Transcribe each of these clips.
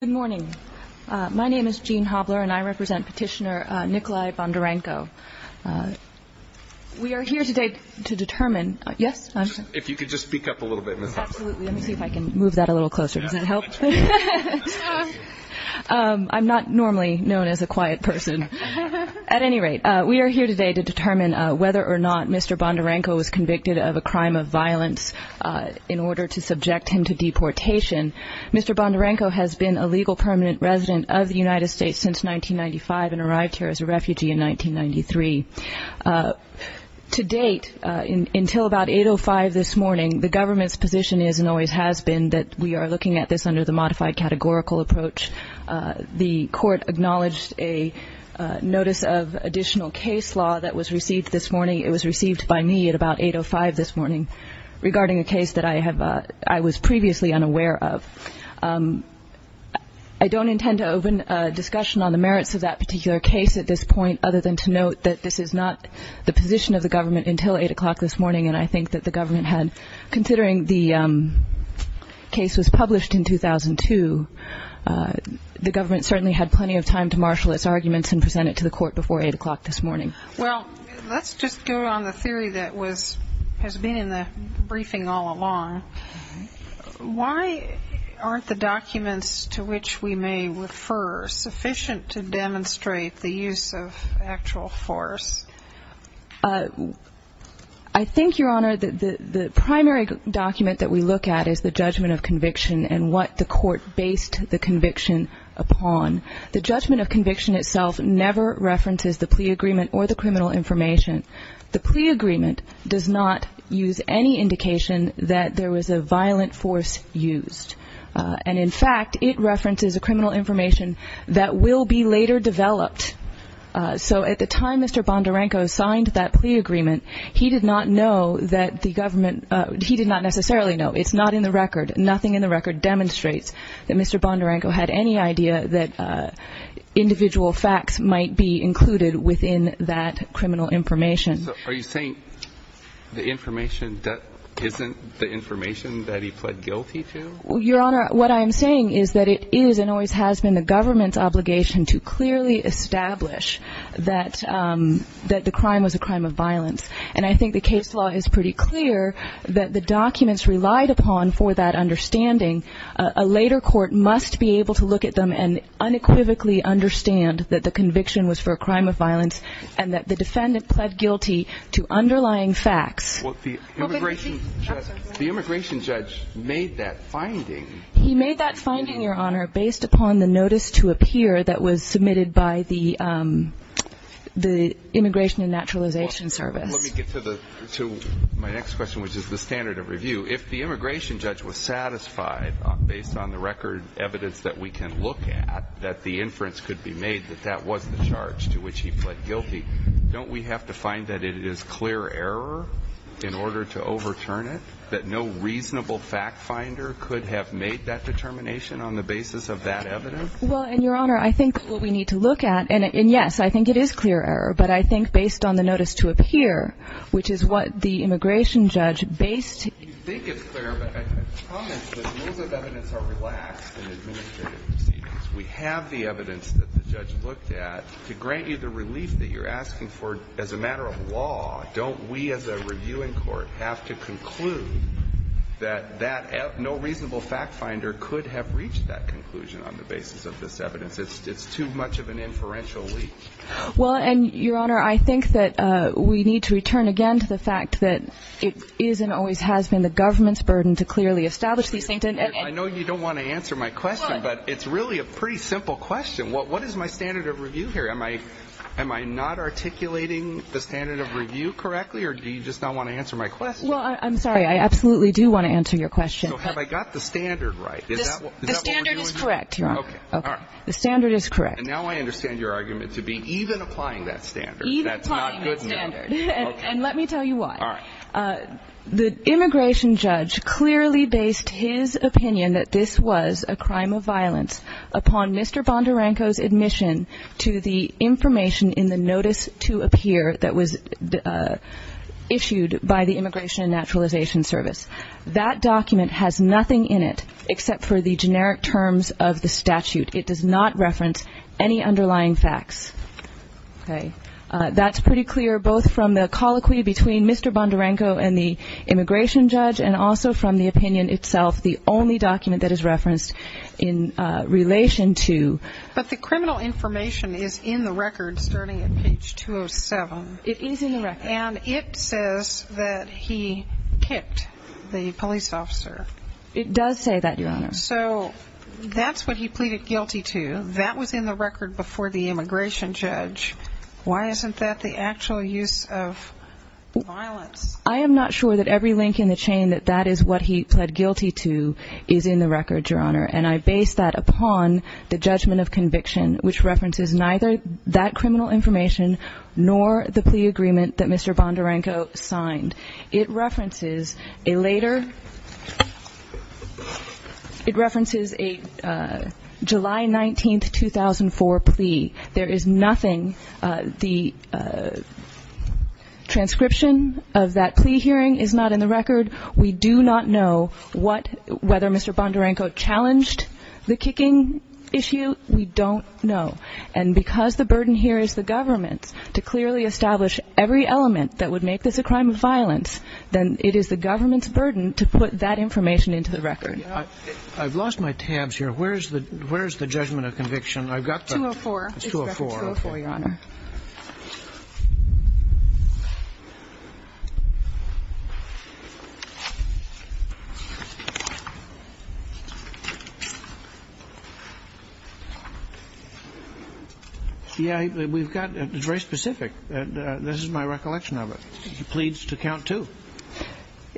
Good morning. My name is Jean Hobler and I represent petitioner Nikolai Bondarenko. We are here today to determine. Yes. If you could just speak up a little bit. Absolutely. Let me see if I can move that a little closer. Does it help? I'm not normally known as a quiet person. At any rate, we are here today to determine whether or not Mr. Bondarenko was convicted of a crime of violence in order to subject him to deportation. Mr. Bondarenko has been a legal permanent resident of the United States since 1995 and arrived here as a refugee in 1993. To date, until about 8.05 this morning, the government's position is and always has been that we are looking at this under the modified categorical approach. The court acknowledged a notice of additional case law that was received this morning. It was received by me at about 8.05 this morning regarding a case that I have. I was previously unaware of. I don't intend to open a discussion on the merits of that particular case at this point, other than to note that this is not the position of the government until eight o'clock this morning. And I think that the government had considering the case was published in 2002. The government certainly had plenty of time to marshal its arguments and present it to the court before eight o'clock this morning. Well, let's just go on the theory that has been in the briefing all along. Why aren't the documents to which we may refer sufficient to demonstrate the use of actual force? I think, Your Honor, the primary document that we look at is the judgment of conviction and what the court based the conviction upon. The judgment of conviction itself never references the plea agreement or the criminal information. The plea agreement does not use any indication that there was a violent force used. And, in fact, it references a criminal information that will be later developed. So at the time Mr. Bondarenko signed that plea agreement, he did not know that the government he did not necessarily know. It's not in the record. Nothing in the record demonstrates that Mr. Bondarenko had any idea that individual facts might be included within that criminal information. So are you saying the information that isn't the information that he pled guilty to? Well, Your Honor, what I am saying is that it is and always has been the government's obligation to clearly establish that the crime was a crime of violence. And I think the case law is pretty clear that the documents relied upon for that understanding. A later court must be able to look at them and unequivocally understand that the conviction was for a crime of violence and that the defendant pled guilty to underlying facts. Well, the immigration judge made that finding. He made that finding, Your Honor, based upon the notice to appear that was submitted by the Immigration and Naturalization Service. Let me get to my next question, which is the standard of review. If the immigration judge was satisfied, based on the record evidence that we can look at, that the inference could be made that that was the charge to which he pled guilty, don't we have to find that it is clear error in order to overturn it, that no reasonable fact finder could have made that determination on the basis of that evidence? Well, Your Honor, I think what we need to look at, and yes, I think it is clear error, but I think based on the notice to appear, which is what the immigration judge based. You think it's clear, but I can comment that rules of evidence are relaxed in administrative proceedings. We have the evidence that the judge looked at to grant you the relief that you're asking for. As a matter of law, don't we as a reviewing court have to conclude that that no reasonable fact finder could have reached that conclusion on the basis of this evidence? It's too much of an inferential leap. Well, and Your Honor, I think that we need to return again to the fact that it is and always has been the government's burden to clearly establish these things. I know you don't want to answer my question, but it's really a pretty simple question. What is my standard of review here? Am I not articulating the standard of review correctly, or do you just not want to answer my question? Well, I'm sorry. I absolutely do want to answer your question. So have I got the standard right? The standard is correct, Your Honor. Okay. The standard is correct. And now I understand your argument to be even applying that standard. Even applying the standard. That's not good enough. And let me tell you why. All right. The immigration judge clearly based his opinion that this was a crime of violence upon Mr. Bondarenko's admission to the information in the notice to appear that was issued by the Immigration and Naturalization Service. That document has nothing in it except for the generic terms of the statute. It does not reference any underlying facts. Okay. That's pretty clear both from the colloquy between Mr. Bondarenko and the immigration judge and also from the opinion itself, the only document that is referenced in relation to. But the criminal information is in the record starting at page 207. It is in the record. And it says that he kicked the police officer. It does say that, Your Honor. So that's what he pleaded guilty to. That was in the record before the immigration judge. Why isn't that the actual use of violence? I am not sure that every link in the chain that that is what he pled guilty to is in the record, Your Honor. And I base that upon the judgment of conviction, which references neither that criminal information nor the plea agreement that Mr. Bondarenko signed. It references a later, it references a July 19, 2004 plea. There is nothing, the transcription of that plea hearing is not in the record. We do not know what, whether Mr. Bondarenko challenged the kicking issue. We don't know. And because the burden here is the government to clearly establish every element that would make this a crime of violence, then it is the government's burden to put that information into the record. I've lost my tabs here. Where is the judgment of conviction? I've got the 204. It's 204, Your Honor. Yeah, we've got, it's very specific. This is my recollection of it. He pleads to count two.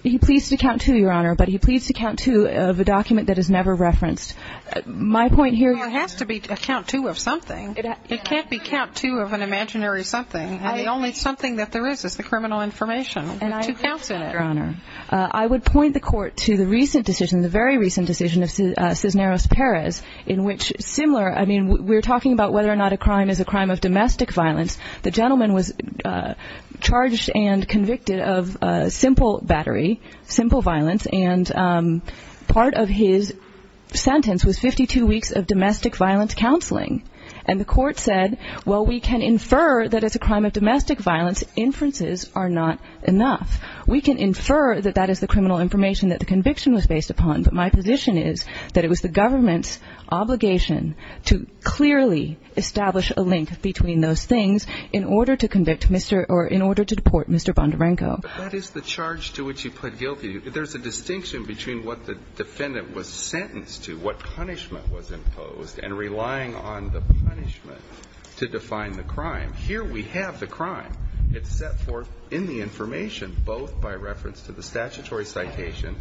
He pleads to count two, Your Honor, but he pleads to count two of a document that is never referenced. It has to be a count two of something. It can't be count two of an imaginary something. The only something that there is is the criminal information. There are two counts in it. I would point the Court to the recent decision, the very recent decision of Cisneros Perez, in which similar, I mean, we're talking about whether or not a crime is a crime of domestic violence. The gentleman was charged and convicted of simple battery, simple violence, and part of his sentence was 52 weeks of domestic violence counseling. And the Court said, well, we can infer that it's a crime of domestic violence. Inferences are not enough. We can infer that that is the criminal information that the conviction was based upon, but my position is that it was the government's obligation to clearly establish a link between those things in order to convict Mr. or in order to deport Mr. Bondarenko. That is the charge to which you put guilty. There's a distinction between what the defendant was sentenced to, what punishment was imposed, and relying on the punishment to define the crime. Here we have the crime. It's set forth in the information both by reference to the statutory citation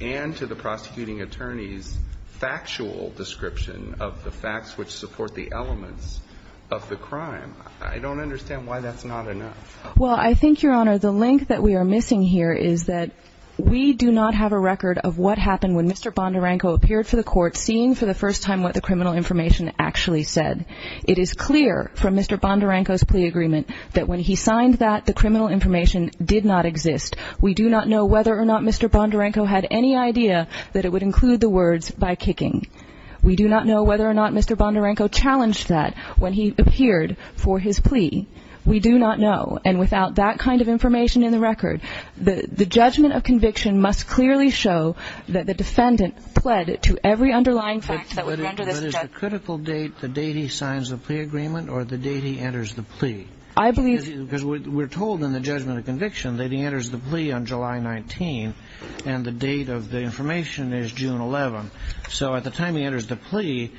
and to the prosecuting attorney's factual description of the facts which support the elements of the crime. I don't understand why that's not enough. Well, I think, Your Honor, the link that we are missing here is that we do not have a record of what happened when Mr. Bondarenko appeared for the Court, seeing for the first time what the criminal information actually said. It is clear from Mr. Bondarenko's plea agreement that when he signed that, the criminal information did not exist. We do not know whether or not Mr. Bondarenko had any idea that it would include the words by kicking. We do not know whether or not Mr. Bondarenko challenged that when he appeared for his plea. We do not know. And without that kind of information in the record, the judgment of conviction must clearly show that the defendant pled to every underlying fact that would render this a judgment. But is the critical date the date he signs the plea agreement or the date he enters the plea? I believe... Because we're told in the judgment of conviction that he enters the plea on July 19, and the date of the information is June 11. So at the time he enters the plea,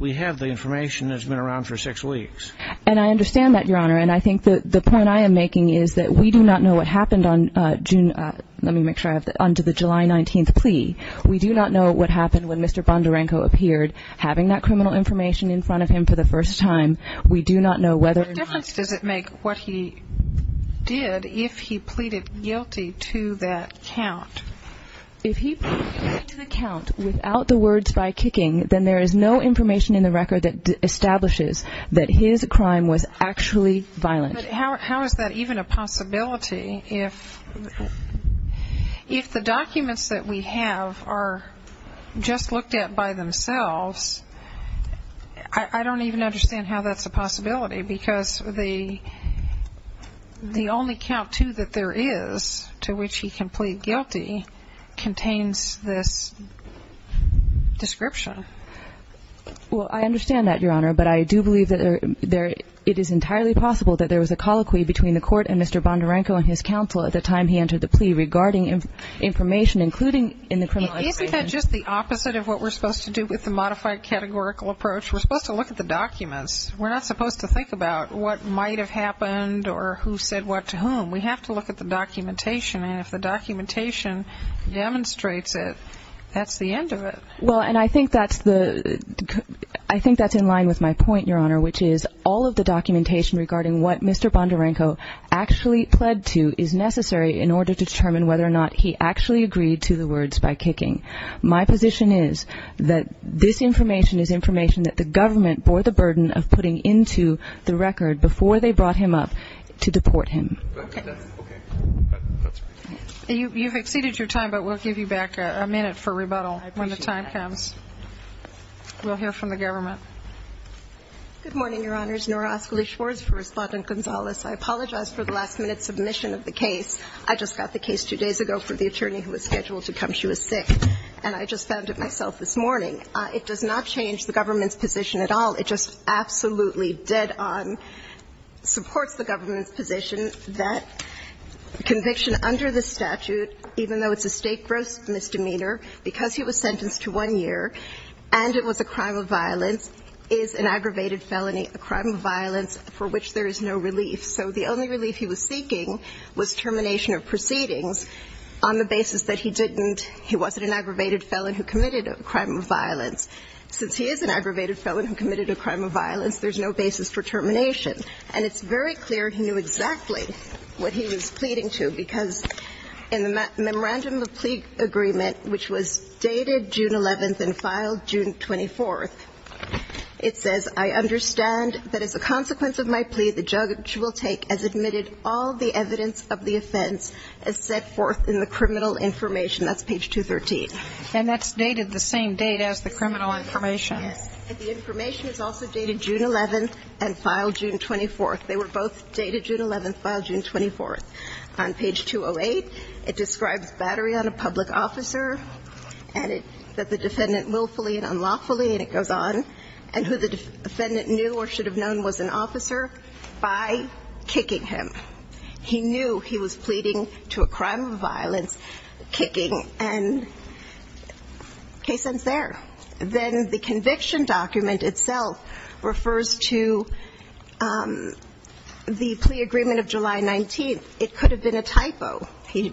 we have the information that's been around for six weeks. And I understand that, Your Honor. And I think that the point I am making is that we do not know what happened on June, let me make sure I have that, on to the July 19 plea. We do not know what happened when Mr. Bondarenko appeared, having that criminal information in front of him for the first time. We do not know whether... What difference does it make what he did if he pleaded guilty to that count? If he pleaded guilty to the count without the words by kicking, then there is no information in the record that establishes that his crime was actually violent. But how is that even a possibility if the documents that we have are just looked at by themselves? I don't even understand how that's a possibility, because the only count, too, that there is to which he can plead guilty contains this description. Well, I understand that, Your Honor, but I do believe that it is entirely possible that there was a colloquy between the court and Mr. Bondarenko and his counsel at the time he entered the plea regarding information, including in the criminalized statement. Isn't that just the opposite of what we're supposed to do with the modified categorical approach? We're supposed to look at the documents. We're not supposed to think about what might have happened or who said what to whom. We have to look at the documentation, and if the documentation demonstrates it, that's the end of it. Well, and I think that's in line with my point, Your Honor, which is all of the documentation regarding what Mr. Bondarenko actually pled to is necessary in order to determine whether or not he actually agreed to the words by kicking. My position is that this information is information that the government bore the burden of putting into the record before they brought him up to deport him. Okay. Okay. That's great. You've exceeded your time, but we'll give you back a minute for rebuttal when the time comes. I appreciate that. We'll hear from the government. Good morning, Your Honors. Nora Oscoli Schwartz for Respondent Gonzalez. I apologize for the last-minute submission of the case. I just got the case two days ago for the attorney who was scheduled to come. She was sick, and I just found it myself this morning. It does not change the government's position at all. It just absolutely dead-on supports the government's position that conviction under the statute, even though it's a state gross misdemeanor, because he was sentenced to one year and it was a crime of violence, is an aggravated felony, a crime of violence for which there is no relief. So the only relief he was seeking was termination of proceedings on the basis that he didn't he wasn't an aggravated felon who committed a crime of violence. Since he is an aggravated felon who committed a crime of violence, there's no basis for termination. And it's very clear he knew exactly what he was pleading to, because in the memorandum of plea agreement, which was dated June 11th and filed June 24th, it says, I understand that as a consequence of my plea, the judge will take as admitted all the evidence of the offense as set forth in the criminal information. That's page 213. And that's dated the same date as the criminal information. Yes. And the information is also dated June 11th and filed June 24th. They were both dated June 11th, filed June 24th. On page 208, it describes battery on a public officer and that the defendant willfully and unlawfully, and it goes on, and who the defendant knew or should have known was an officer by kicking him. He knew he was pleading to a crime of violence, kicking, and case ends there. Then the conviction document itself refers to the plea agreement of July 19th. It could have been a typo. He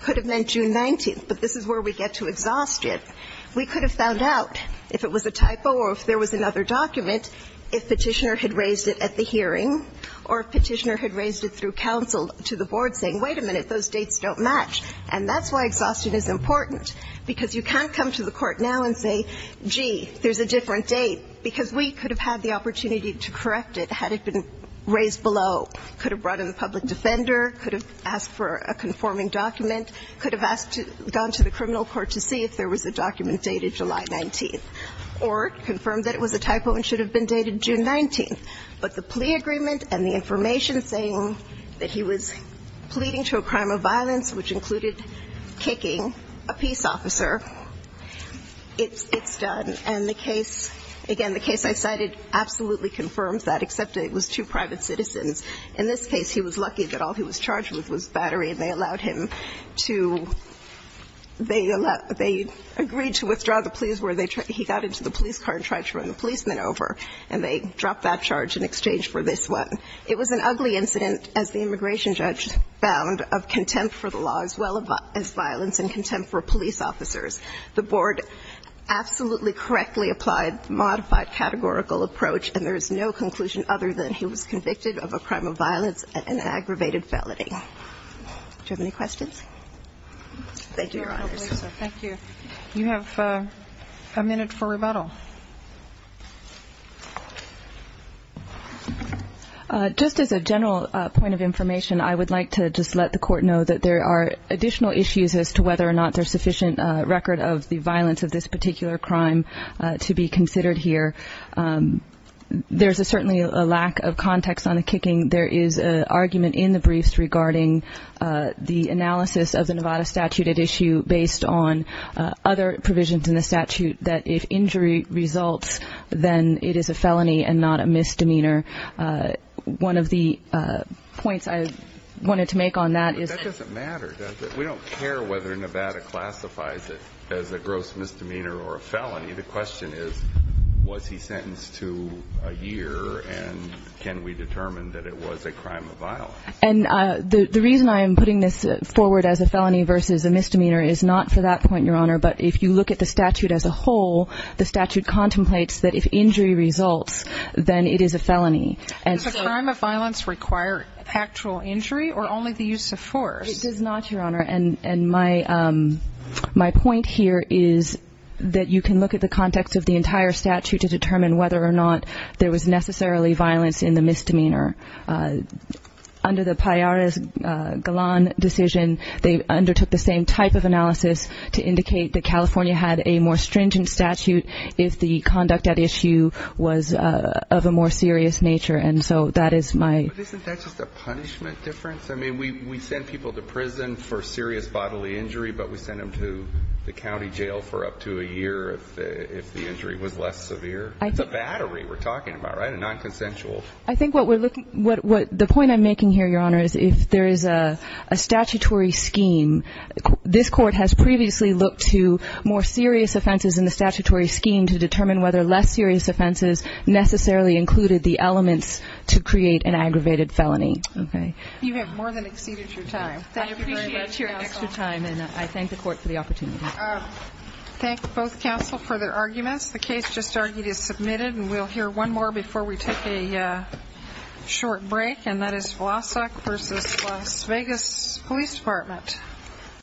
could have meant June 19th. But this is where we get to exhaustion. We could have found out if it was a typo or if there was another document if Petitioner had raised it at the hearing, or if Petitioner had raised it through counsel to the board saying, wait a minute, those dates don't match. And that's why exhaustion is important, because you can't come to the court now and say, gee, there's a different date, because we could have had the opportunity to correct it had it been raised below. Could have brought in the public defender, could have asked for a conforming document, could have gone to the criminal court to see if there was a document dated July 19th, or confirmed that it was a typo and should have been dated June 19th. But the plea agreement and the information saying that he was pleading to a crime of violence, which included kicking a peace officer, it's done. And the case, again, the case I cited absolutely confirms that, except it was two private citizens. In this case, he was lucky that all he was charged with was battery, and they allowed him to they agreed to withdraw the pleas where he got into the police car and tried to run the policeman over, and they dropped that charge in exchange for this one. It was an ugly incident, as the immigration judge found, of contempt for the law as well as violence and contempt for police officers. The board absolutely correctly applied modified categorical approach, and there was no conclusion other than he was convicted of a crime of violence and an aggravated felony. Do you have any questions? Thank you, Your Honor. Thank you. You have a minute for rebuttal. Just as a general point of information, I would like to just let the court know that there are additional issues as to whether or not there's sufficient record of the violence of this particular crime to be considered here. There's certainly a lack of context on the kicking. There is an argument in the briefs regarding the analysis of the Nevada statute at issue based on other provisions in the statute that if injury results, then it is a felony and not a misdemeanor. One of the points I wanted to make on that is that we don't care whether Nevada classifies it as a gross misdemeanor or a felony. The question is, was he sentenced to a year, and can we determine that it was a crime of violence? And the reason I am putting this forward as a felony versus a misdemeanor is not for that point, Your Honor, but if you look at the statute as a whole, the statute contemplates that if injury results, then it is a felony. Does a crime of violence require factual injury or only the use of force? It does not, Your Honor. And my point here is that you can look at the context of the entire statute to determine whether or not there was necessarily violence in the misdemeanor. Under the Pallares-Galan decision, they undertook the same type of analysis to indicate that California had a more stringent statute if the conduct at issue was of a more serious nature. And so that is my... But isn't that just a punishment difference? I mean, we send people to prison for serious bodily injury, but we send them to the county jail for up to a year if the injury was less severe. It's a battery we're talking about, right? A nonconsensual... I think what we're looking... The point I'm making here, Your Honor, is if there is a statutory scheme, this Court has previously looked to more serious offenses in the statutory scheme to determine whether less serious offenses necessarily included the elements to create an aggravated felony. Okay. You have more than exceeded your time. Thank you very much, counsel. I appreciate your extra time, and I thank the Court for the opportunity. Thank both counsel for their arguments. The case just argued is submitted, and we'll hear one more before we take a short break, and that is Vlasak v. Las Vegas Police Department.